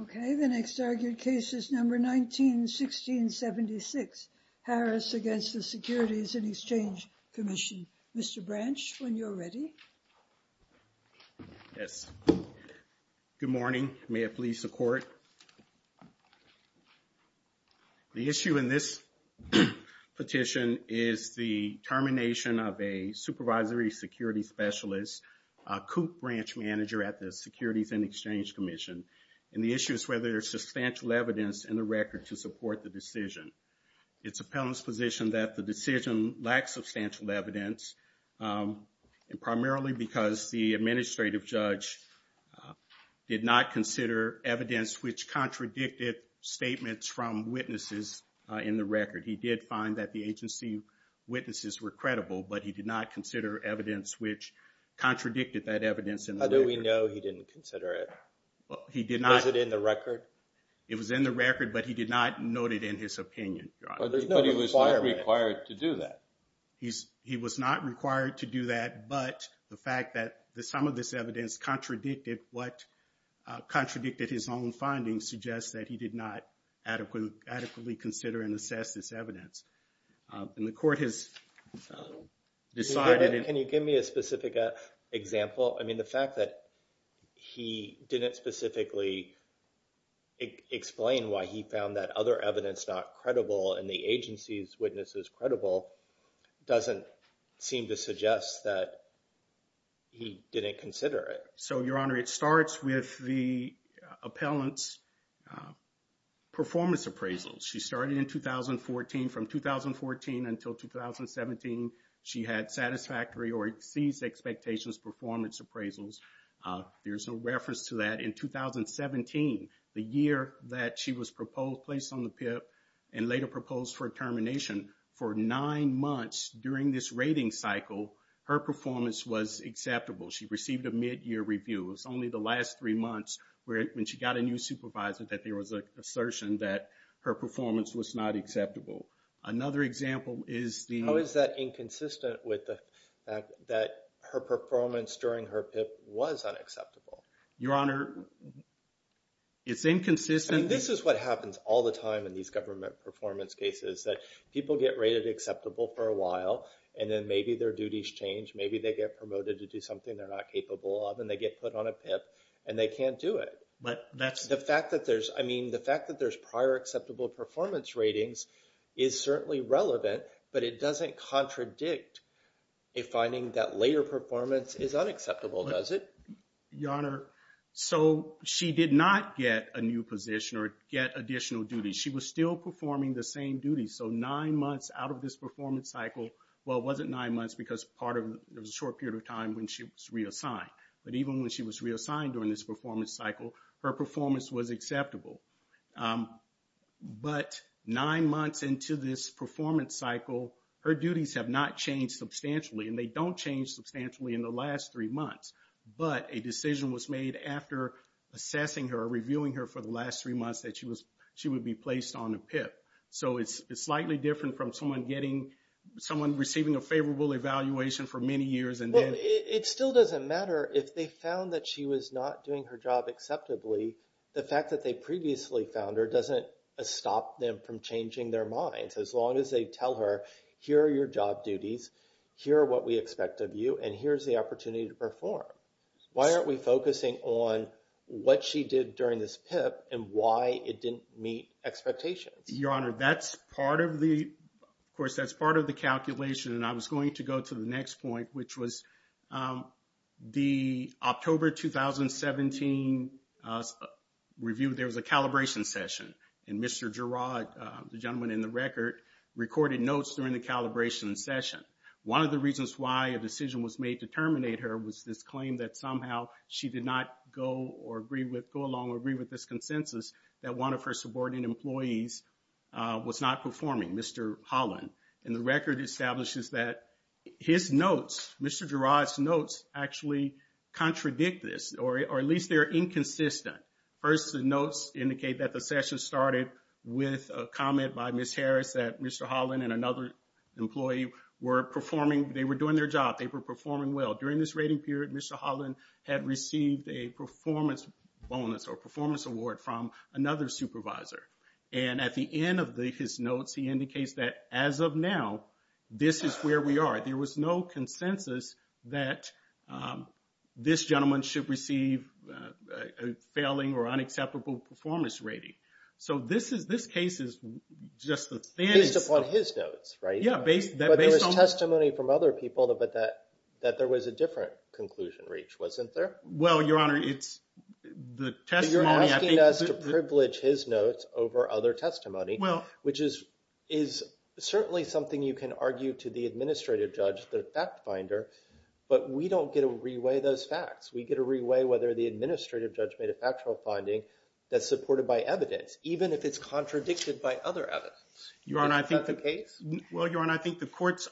Okay, the next argued case is number 19-1676, Harris against the Securities and Exchange Commission. Mr. Branch, when you're ready. Yes. Good morning. May it please the Court. The issue in this petition is the termination of a supervisory security specialist, a COOP branch manager at the Securities and Exchange Commission. And the issue is whether there's substantial evidence in the record to support the decision. It's a felon's position that the decision lacks substantial evidence, primarily because the administrative judge did not consider evidence which contradicted statements from the agency. Witnesses were credible, but he did not consider evidence which contradicted that evidence. How do we know he didn't consider it? Was it in the record? It was in the record, but he did not note it in his opinion. But he was not required to do that. He was not required to do that, but the fact that some of this evidence contradicted what contradicted his own findings suggests that he did not adequately consider and assess this evidence. And the Court has decided... Can you give me a specific example? I mean, the fact that he didn't specifically explain why he found that other evidence not credible and the agency's witnesses credible doesn't seem to suggest that he didn't consider it. So, Your Honor, it starts with the appellant's performance appraisals. She started in 2014. From 2014 until 2017, she had satisfactory or exceeded expectations performance appraisals. There's a reference to that in 2017, the year that she was placed on the PIP and later proposed for termination. For nine months during this rating cycle, her performance was acceptable. She received a mid-year review. It was only the last three months when she got a new supervisor that there was an assertion that her performance was not acceptable. Another example is the... How is that inconsistent with the fact that her performance during her PIP was unacceptable? Your Honor, it's inconsistent... This is what happens all the time in these government performance cases, that people get rated acceptable for a while and then their duties change. Maybe they get promoted to do something they're not capable of and they get put on a PIP and they can't do it. The fact that there's prior acceptable performance ratings is certainly relevant, but it doesn't contradict a finding that later performance is unacceptable, does it? Your Honor, so she did not get a new position or get additional duties. She was still performing the same duties. So nine months out of this nine months, because part of it was a short period of time when she was reassigned. But even when she was reassigned during this performance cycle, her performance was acceptable. But nine months into this performance cycle, her duties have not changed substantially and they don't change substantially in the last three months. But a decision was made after assessing her, reviewing her for the last three months that she would be placed on a PIP. So it's slightly different from someone receiving a favorable evaluation for many years and then... Well, it still doesn't matter if they found that she was not doing her job acceptably. The fact that they previously found her doesn't stop them from changing their minds. As long as they tell her, here are your job duties, here are what we expect of you, and here's the opportunity to perform. Why aren't we focusing on what she did during this PIP and why it didn't meet expectations? Your Honor, that's part of the... Of course, that's part of the calculation. And I was going to go to the next point, which was the October 2017 review. There was a calibration session and Mr. Girod, the gentleman in the record, recorded notes during the calibration session. One of the reasons why a decision was made to terminate her was this claim that somehow she did not go or agree with, go along or agree with this consensus that one of her subordinate employees was not performing, Mr. Holland. And the record establishes that his notes, Mr. Girod's notes actually contradict this, or at least they're inconsistent. First, the notes indicate that the session started with a comment by Ms. Harris that Mr. Holland and another employee were performing, they were doing their job, they were performing well. During this rating period, Mr. Holland had received a performance bonus or performance award from another supervisor. And at the end of his notes, he indicates that as of now, this is where we are. There was no consensus that this gentleman should receive a failing or unacceptable performance rating. So this case is just the things... Based upon his notes, right? Yeah, based on... But there was testimony from other people that there was a different conclusion reach, wasn't there? Well, Your Honor, it's the testimony... Well, you're asking us to privilege his notes over other testimony, which is certainly something you can argue to the administrative judge, the fact finder, but we don't get to re-weigh those facts. We get to re-weigh whether the administrative judge made a factual finding that's supported by evidence, even if it's contradicted by other evidence. Is that the case? Well, Your Honor, I think the court's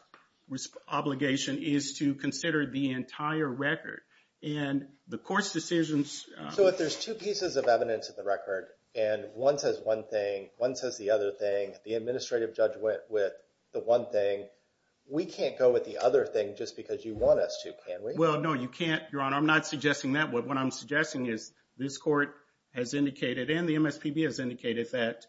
obligation is to consider the entire record. And the court's decisions... So if there's two pieces of evidence in the record, and one says one thing, one says the other thing, the administrative judge went with the one thing, we can't go with the other thing just because you want us to, can we? Well, no, you can't, Your Honor. I'm not suggesting that. What I'm suggesting is this court has indicated and the MSPB has indicated that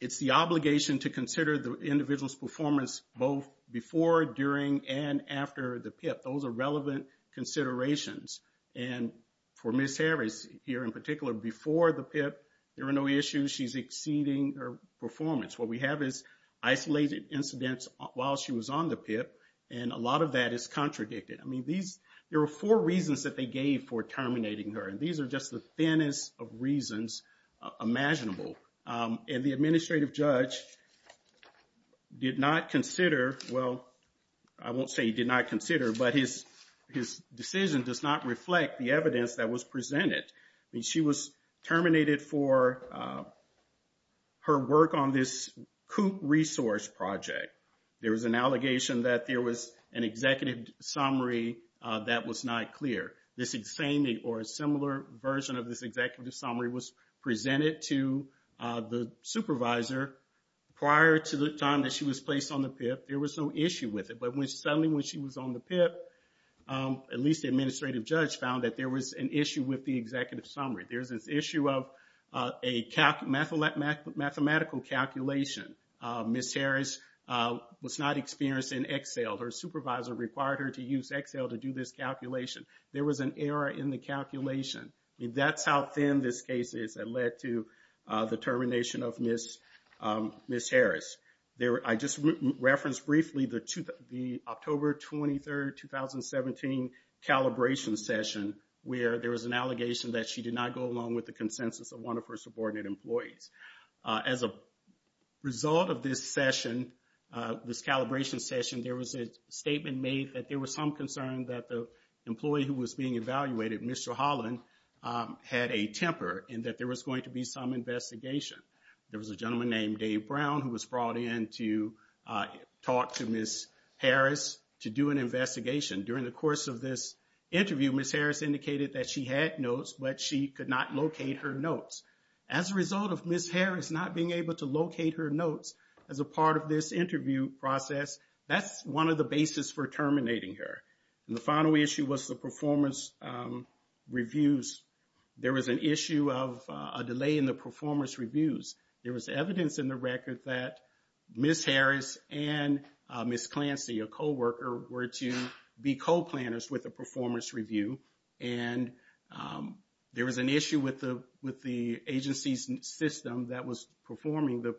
it's the obligation to consider the individual's performance both before, during, and after the PIP. Those are relevant considerations. And for Ms. Harris here in particular, before the PIP, there were no issues. She's exceeding her performance. What we have is isolated incidents while she was on the PIP, and a lot of that is contradicted. I mean, there were four reasons that they gave for terminating her, and these are just the thinnest of reasons imaginable. And the administrative judge did not consider, well, I won't say he did not consider, but his decision does not reflect the evidence that was presented. She was terminated for her work on this coop resource project. There was an allegation that there was an executive summary that was not clear. This same or a similar version of this executive summary was presented to the supervisor prior to the time that she was placed on the PIP. There was no issue with it, but suddenly when she was on the PIP, at least the administrative judge found that there was an issue with the executive summary. There's this issue of a mathematical calculation. Ms. Harris was not experienced in Excel. Her supervisor required her to use Excel to do this calculation. There was an error in the calculation. I mean, that's how thin this case is that led to the termination of Ms. Harris. I just referenced briefly the October 23, 2017 calibration session where there was an allegation that she did not go along with the consensus of one of her subordinate employees. As a result of this session, this calibration session, there was a statement made that there was some concern that the judge had a temper and that there was going to be some investigation. There was a gentleman named Dave Brown who was brought in to talk to Ms. Harris to do an investigation. During the course of this interview, Ms. Harris indicated that she had notes, but she could not locate her notes. As a result of Ms. Harris not being able to locate her notes as a part of this interview process, that's one of the basis for terminating her. And the final issue was the performance reviews. There was an issue of a delay in the performance reviews. There was evidence in the record that Ms. Harris and Ms. Clancy, a coworker, were to be co-planners with the performance review. And there was an issue with the agency's system that was performing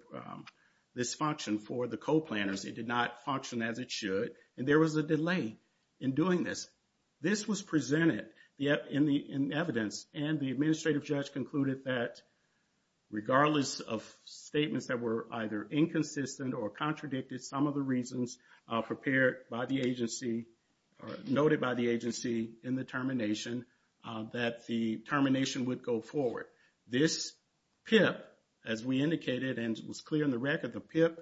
this function for the co-planners. It did not function as it should, and there was a delay in doing this. This was presented in evidence, and the administrative judge concluded that regardless of statements that were either inconsistent or contradicted, some of the reasons prepared by the agency or noted by the agency in the termination, that the termination would go forward. This PIP, as we indicated, and it was clear in the record, the PIP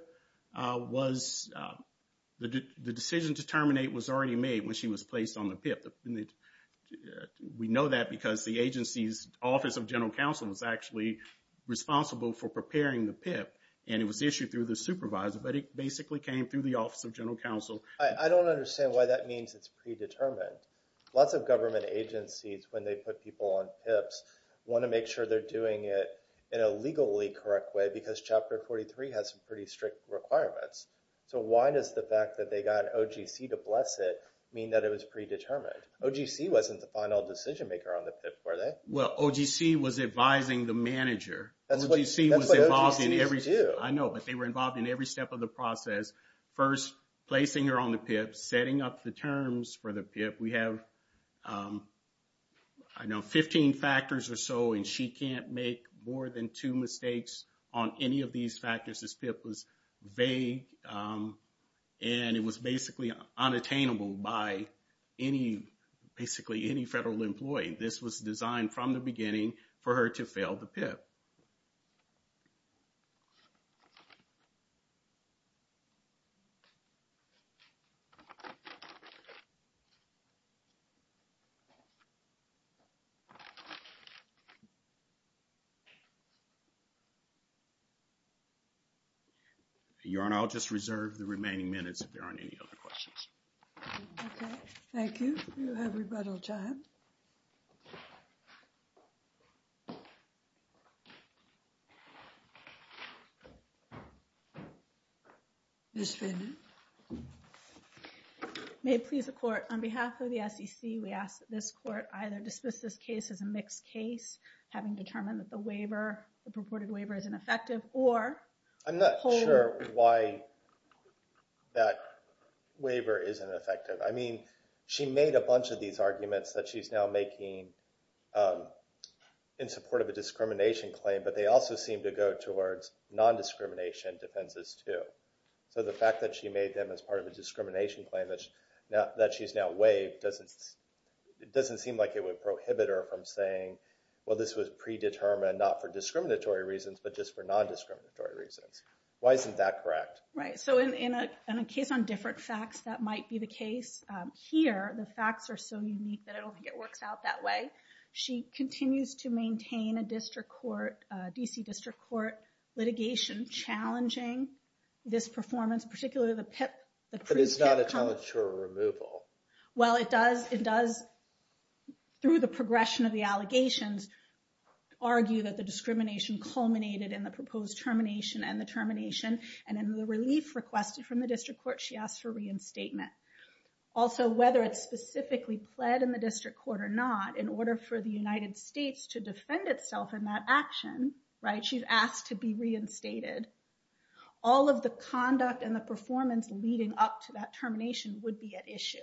was, the decision to terminate was already made when she was placed on the PIP. We know that because the agency's Office of General Counsel was actually responsible for preparing the PIP, and it was issued through the supervisor, but it basically came through the Office of General Counsel. I don't understand why that means it's predetermined. Lots of government agencies, when they put people on PIPs, want to make sure they're doing it in a legally correct way because Chapter 43 has some pretty strict requirements. So why does the fact that they got OGC to bless it mean that it was predetermined? OGC wasn't the final decision maker on the PIP, were they? Well, OGC was advising the manager. That's what OGCs do. I know, but they were involved in every step of the process. First, placing her on the PIP. We have, I know, 15 factors or so, and she can't make more than two mistakes on any of these factors. This PIP was vague, and it was basically unattainable by any, basically, any federal employee. This was designed from the beginning for her to fail the PIP. Your Honor, I'll just reserve the remaining minutes if there aren't any other questions. Okay, thank you. You have rebuttal time. Ms. Vanden? May it please the Court, on behalf of the SEC, we ask that this Court either dismiss this case as a mixed case, having determined that the waiver, the purported waiver, is ineffective, or I'm not sure why that waiver isn't effective. I mean, she made a bunch of these arguments that she's now making in support of a discrimination claim, but they also seem to go towards non-discrimination defenses, too. So, the fact that she made them as part of a discrimination claim that she's now waived doesn't seem like it would prohibit her from saying, well, this was predetermined, not for discriminatory reasons, but just for non-discriminatory reasons. Why isn't that correct? Right. So, in a case on different facts, that might be the case. Here, the facts are so unique that I don't think it works out that way. She continues to maintain a DC District Court litigation challenging this performance, particularly the PIP. But it's not a challenge to her removal. Well, it does, through the progression of the allegations, argue that the discrimination culminated in the proposed termination and the termination, and in the relief requested from the District Court, she asked for reinstatement. Also, whether it's specifically pled in the District Court or not, in order for the United States to defend itself in that action, right, she's asked to be reinstated. All of the conduct and the performance leading up to that issue.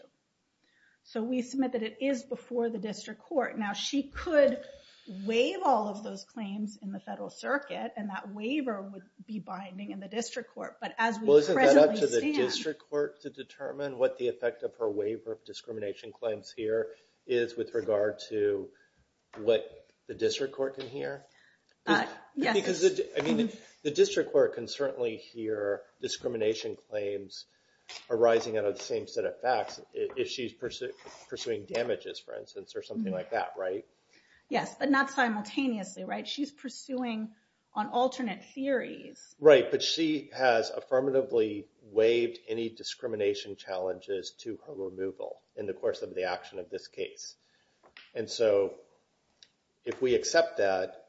So, we submit that it is before the District Court. Now, she could waive all of those claims in the Federal Circuit, and that waiver would be binding in the District Court, but as we presently stand... Well, isn't that up to the District Court to determine what the effect of her waiver of discrimination claims here is with regard to what the District Court can hear? Yes. Because, I mean, the District Court can certainly hear discrimination claims arising out of the same set of facts if she's pursuing damages, for instance, or something like that, right? Yes, but not simultaneously, right? She's pursuing on alternate theories. Right, but she has affirmatively waived any discrimination challenges to her removal in the course of the action of this case. And so, if we accept that,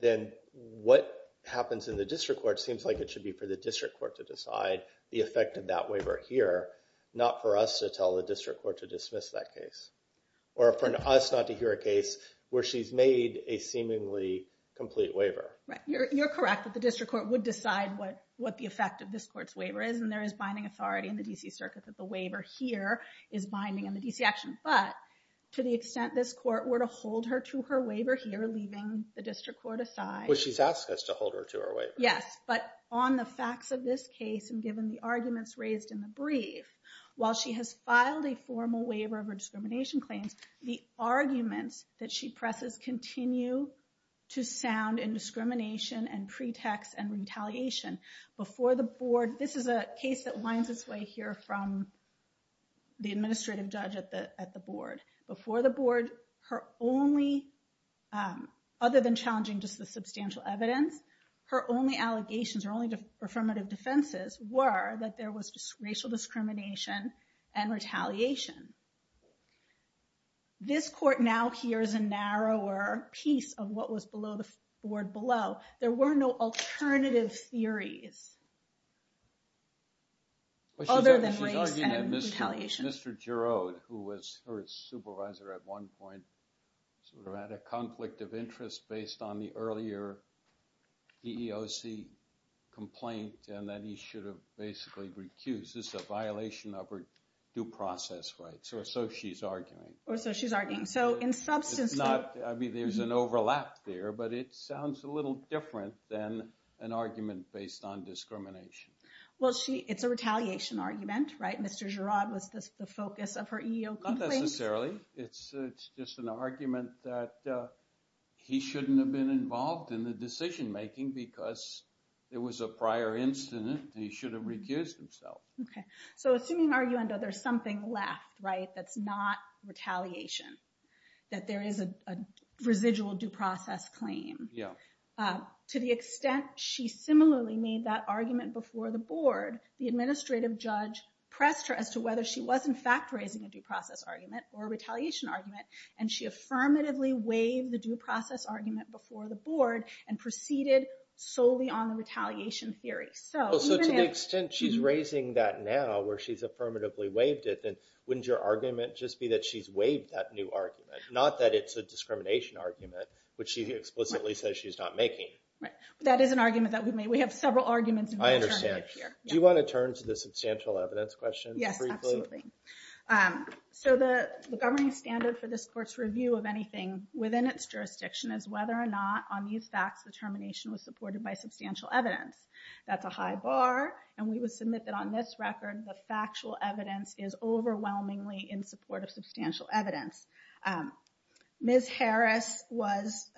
then what happens in the District Court seems like it should be for the District Court to decide the effect of that waiver here, not for us to tell the District Court to dismiss that case, or for us not to hear a case where she's made a seemingly complete waiver. Right. You're correct that the District Court would decide what the effect of this Court's waiver is, and there is binding authority in the D.C. Circuit that the waiver here is binding on the D.C. action, but to the extent this Court were to hold her to her waiver here, leaving the District Court aside... Well, she's asked us to hold her to her waiver. Yes, but on the facts of this case, and given the arguments raised in the brief, while she has filed a formal waiver of her discrimination claims, the arguments that she presses continue to sound in discrimination and pretext and retaliation. Before the Board... This is a case that winds its way here from the Administrative Judge at the Board. Before the Board, her only... Other than challenging just the substantial evidence, her only allegations, her only affirmative defenses were that there was racial discrimination and retaliation. This Court now hears a narrower piece of what was below the Board below. There were no jurors. Mr. Giraud, who was her supervisor at one point, sort of had a conflict of interest based on the earlier EEOC complaint, and that he should have basically recused. This is a violation of her due process rights, or so she's arguing. Or so she's arguing. So in substance... It's not... I mean, there's an overlap there, but it sounds a little different than an argument based on discrimination. Well, it's a retaliation argument, right? Mr. Giraud was the focus of her EEOC complaint. Not necessarily. It's just an argument that he shouldn't have been involved in the decision making because it was a prior incident, and he should have recused himself. Okay. So assuming, are you under... There's something left, right, that's not retaliation, that there is a residual due process claim. Yeah. To the extent she similarly made that argument before the Board, the administrative judge pressed her as to whether she was in fact raising a due process argument or a retaliation argument, and she affirmatively waived the due process argument before the Board and proceeded solely on the retaliation theory. So even if... Well, so to the extent she's raising that now, where she's affirmatively waived it, then wouldn't your argument just be that she's waived that new argument? Not that it's a case that she's not making. Right. That is an argument that we've made. We have several arguments. I understand. Do you want to turn to the substantial evidence question briefly? Yes, absolutely. So the governing standard for this court's review of anything within its jurisdiction is whether or not on these facts, the termination was supported by substantial evidence. That's a high bar, and we would submit that on this record, the factual evidence is overwhelmingly in support of substantial evidence. Ms. Harris was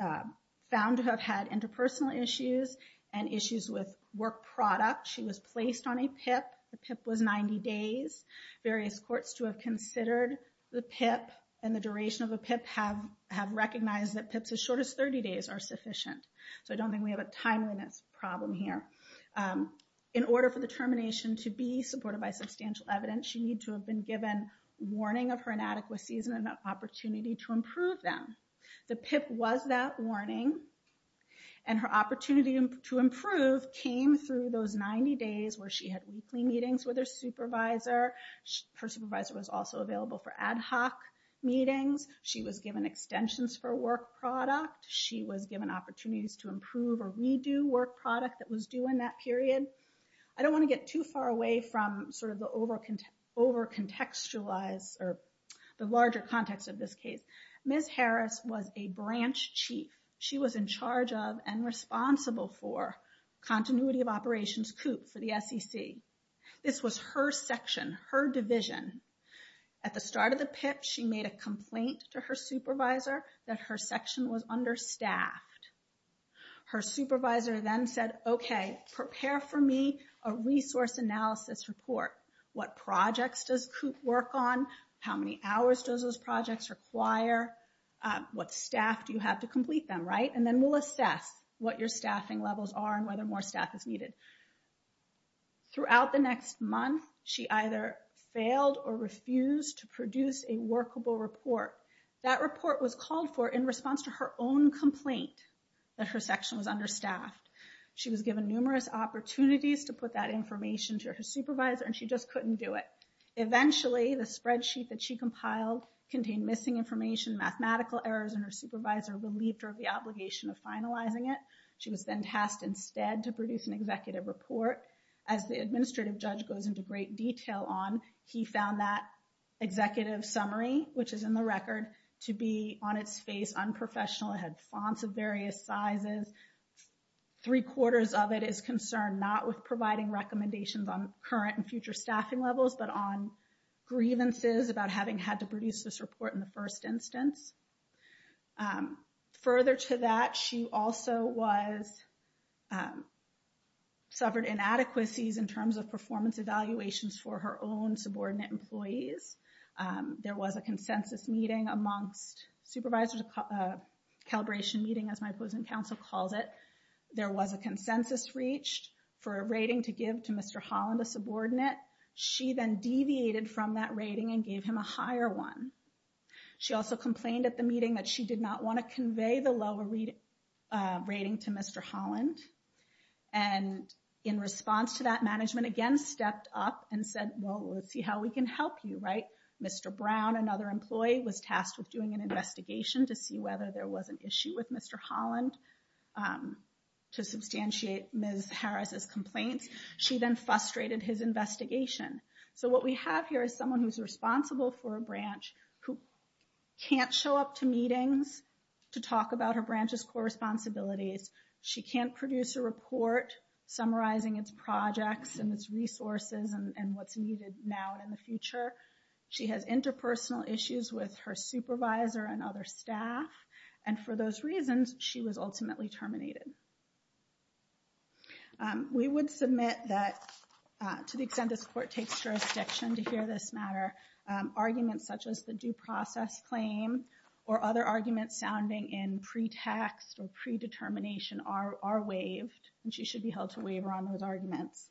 found to have had interpersonal issues and issues with work product. She was placed on a PIP. The PIP was 90 days. Various courts to have considered the PIP and the duration of a PIP have recognized that PIPs as short as 30 days are sufficient. So I don't think we have a timeliness problem here. In order for the warning of her inadequacies and an opportunity to improve them. The PIP was that warning, and her opportunity to improve came through those 90 days where she had weekly meetings with her supervisor. Her supervisor was also available for ad hoc meetings. She was given extensions for work product. She was given opportunities to improve or redo work product that was due in that period. I don't want to get too far away from sort of the over contextualized or the larger context of this case. Ms. Harris was a branch chief. She was in charge of and responsible for continuity of operations coupe for the SEC. This was her section, her division. At the start of the PIP, she made a complaint to her supervisor that her section was understaffed. Her supervisor then said, okay, prepare for me a resource analysis report. What projects does coupe work on? How many hours does those projects require? What staff do you have to complete them, right? And then we'll assess what your staffing levels are and whether more staff is needed. Throughout the next month, she either failed or refused to produce a workable report. That report was called for in response to her own complaint that her section was understaffed. She was given numerous opportunities to put that information to her supervisor and she just couldn't do it. Eventually, the spreadsheet that she compiled contained missing information, mathematical errors, and her supervisor relieved her of the obligation of finalizing it. She was then tasked instead to produce an executive report. As the administrative judge goes into great detail on, he found that executive summary, which is in the record, to be on its face unprofessional. It had fonts of various sizes. Three quarters of it is concerned not with providing recommendations on current and future staffing levels, but on grievances about having had to produce this report in the first instance. Further to that, she also was suffered inadequacies in terms of performance evaluations for her own subordinate employees. There was a consensus meeting amongst supervisors, a calibration meeting as my opposing counsel calls it. There was a consensus reached for a rating to give to Mr. Holland, a subordinate. She then deviated from that rating and gave him a higher one. She also complained at the meeting that she did not want to convey the lower rating to Mr. Holland. In response to that management, again stepped up and said, well, let's see how we can help you. Mr. Brown, another employee, was tasked with doing an investigation to see whether there was an issue with Mr. Holland to substantiate Ms. Harris's complaints. She then frustrated his investigation. So what we have here is someone who's responsible for a branch who can't show up to meetings to talk about her branch's core responsibilities. She can't produce a report summarizing its projects and its resources and what's needed now and in the future. She has interpersonal issues with her supervisor and other staff. And for those reasons, she was ultimately terminated. We would submit that, to the extent this court takes jurisdiction to hear this matter, arguments such as the due process claim or other arguments sounding in pretext or predetermination are waived and she should be held to waiver on those arguments.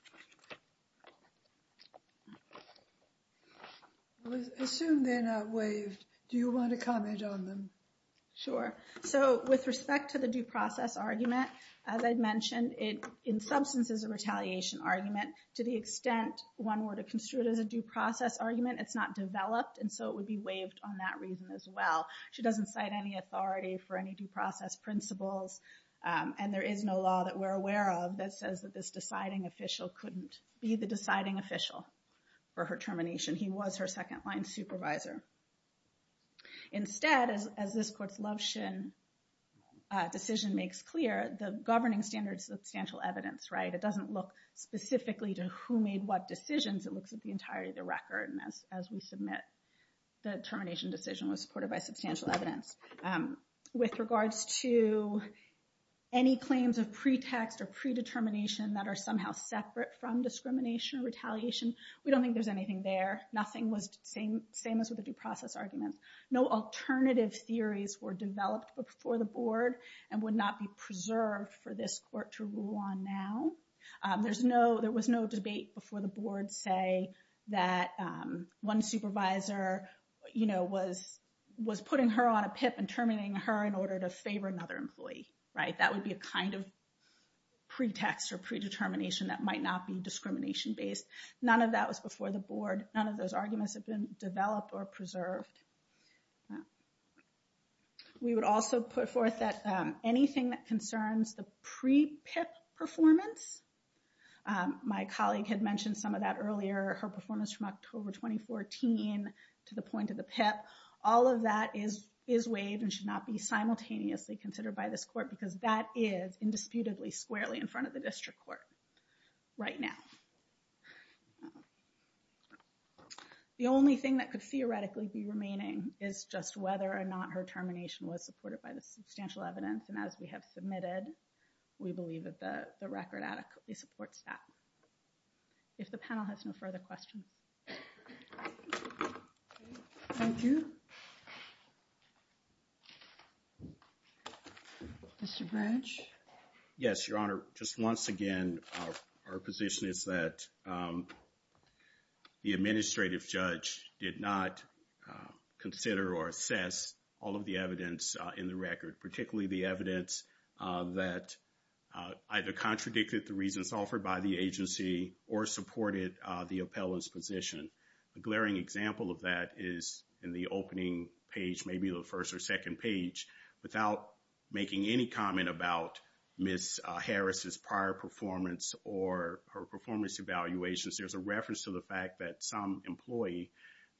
Assume they're not waived. Do you want to comment on them? Sure. So with respect to the due process argument, as I mentioned, in substance is a retaliation argument. To the extent one were to construe it as a due process argument, it's not developed and so it would be waived on that reason as well. She doesn't cite any authority for any due process principles and there is no law that we're aware of that says that this deciding official couldn't be the deciding official for her termination. He was her second-line supervisor. Instead, as this court's Loveschin decision makes clear, the governing standard is substantial evidence, right? It doesn't look specifically to who made what decisions. It looks at the entirety of the record and as we submit the termination decision was supported by substantial evidence. With regards to any claims of pretext or predetermination that are somehow separate from discrimination or retaliation, we don't think there's anything there. Nothing was the same as with the due process argument. No alternative theories were developed before the board and would not be preserved for this court to rule on now. There was no debate before the board, say, that one supervisor was putting her on a PIP and terminating her in order to favor another employee, right? That would be a kind of pretext or predetermination that might not be discrimination-based. None of that was before the board. None of those arguments have been developed or preserved. We would also put forth that anything that concerns the pre-PIP performance, my colleague had mentioned some of that earlier, her performance from October 2014 to the point of the PIP, all of that is waived and should not be simultaneously considered by this court because that is indisputably squarely in front of the district court right now. The only thing that could theoretically be remaining is just whether or not her termination was supported by the substantial evidence and as we have submitted, we believe that the record adequately supports that. If the panel has no further questions. Thank you. Mr. Branch? Yes, Your Honor. Just once again, our position is that the administrative judge did not consider or assess all of the evidence in the record, particularly the evidence that either contradicted the reasons offered by the agency or supported the appellant's position. A glaring example of that is in the opening page, maybe the first or second page, without making any comment about Ms. Harris's prior performance or her performance evaluations, there's a reference to the fact that some employee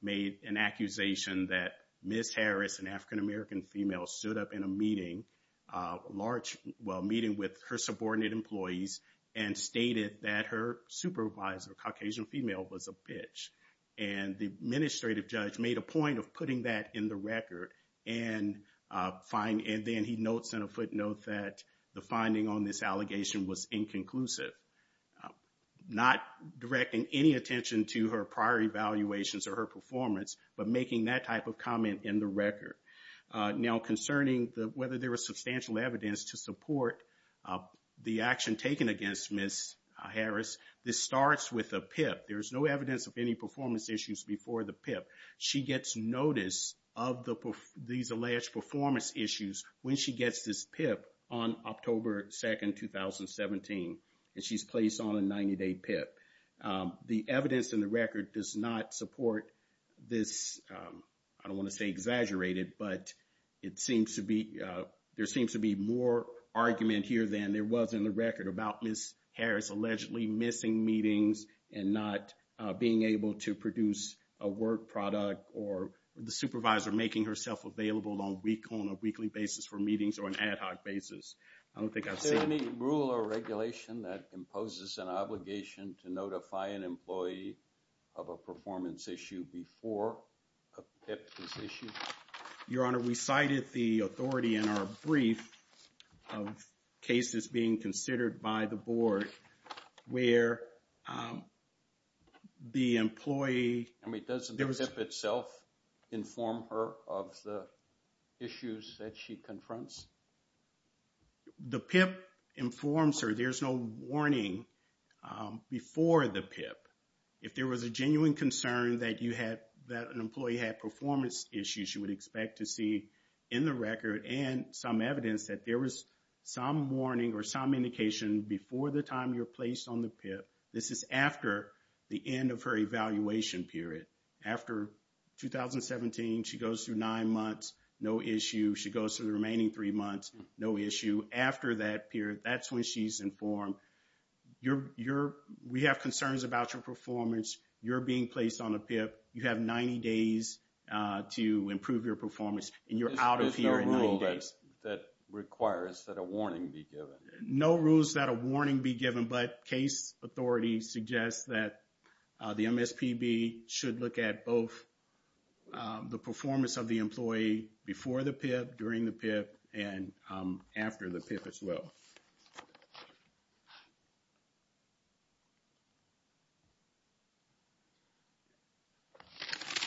made an accusation that Ms. Harris, an African-American female, stood up in a meeting, a large meeting with her subordinate employees and stated that her supervisor, a Caucasian female, was a bitch. And the administrative judge made a point of putting that in the record and then he notes in a footnote that the finding on this allegation was inconclusive. Not directing any attention to her prior evaluations or her in the record. Now, concerning whether there was substantial evidence to support the action taken against Ms. Harris, this starts with a PIP. There's no evidence of any performance issues before the PIP. She gets notice of these alleged performance issues when she gets this PIP on October 2, 2017, and she's placed on a 90-day PIP. The evidence in the record does not support this, I don't want to say exaggerated, but it seems to be, there seems to be more argument here than there was in the record about Ms. Harris allegedly missing meetings and not being able to produce a work product or the supervisor making herself available on a weekly basis for meetings or an ad hoc basis. I don't think I've seen... Is there any rule or regulation that imposes an issue before a PIP is issued? Your Honor, we cited the authority in our brief of cases being considered by the board where the employee... I mean, doesn't the PIP itself inform her of the issues that she confronts? The PIP informs her, there's no warning before the PIP. If there was a genuine concern that an employee had performance issues, you would expect to see in the record and some evidence that there was some warning or some indication before the time you're placed on the PIP. This is after the end of her evaluation period. After 2017, she goes through nine months, no issue. She goes through the remaining three months, no issue. After that period, that's when she's informed. We have concerns about your performance, you're being placed on a PIP, you have 90 days to improve your performance, and you're out of here in 90 days. Is there a rule that requires that a warning be given? No rules that a warning be given, but case authority suggests that the MSPB should look at both the performance of the employee before the PIP, during the PIP, and after the PIP as well.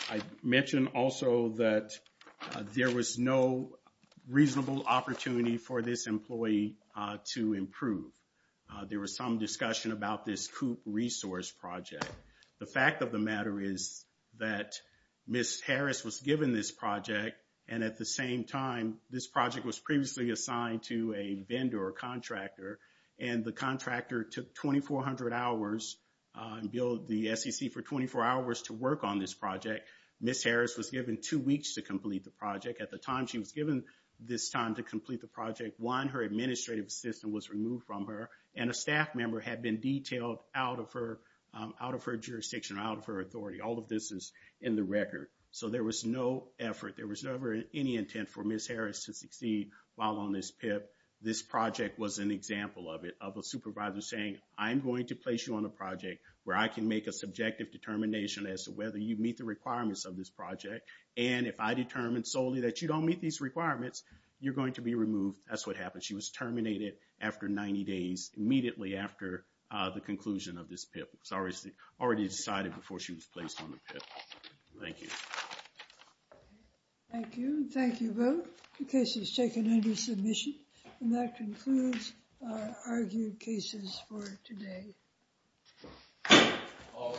I mentioned also that there was no reasonable opportunity for this employee to improve. There was some discussion about this COOP resource project. The fact of the matter is that Ms. Harris was given this project, and at the same time, this project was previously assigned to a contractor, and the contractor took 2,400 hours and billed the SEC for 24 hours to work on this project. Ms. Harris was given two weeks to complete the project. At the time she was given this time to complete the project, one, her administrative assistant was removed from her, and a staff member had been detailed out of her jurisdiction, out of her authority. All of this is in the record. So there was no effort, there was never any intent for Ms. Harris to succeed while on this PIP. This project was an example of it, of a supervisor saying, I'm going to place you on a project where I can make a subjective determination as to whether you meet the requirements of this project, and if I determine solely that you don't meet these requirements, you're going to be removed. That's what happened. She was terminated after 90 days, immediately after the conclusion of this PIP. It was already decided before she was placed on the PIP. Thank you. Thank you. Thank you both. The case is taken under submission, and that concludes our argued cases for today. All rise.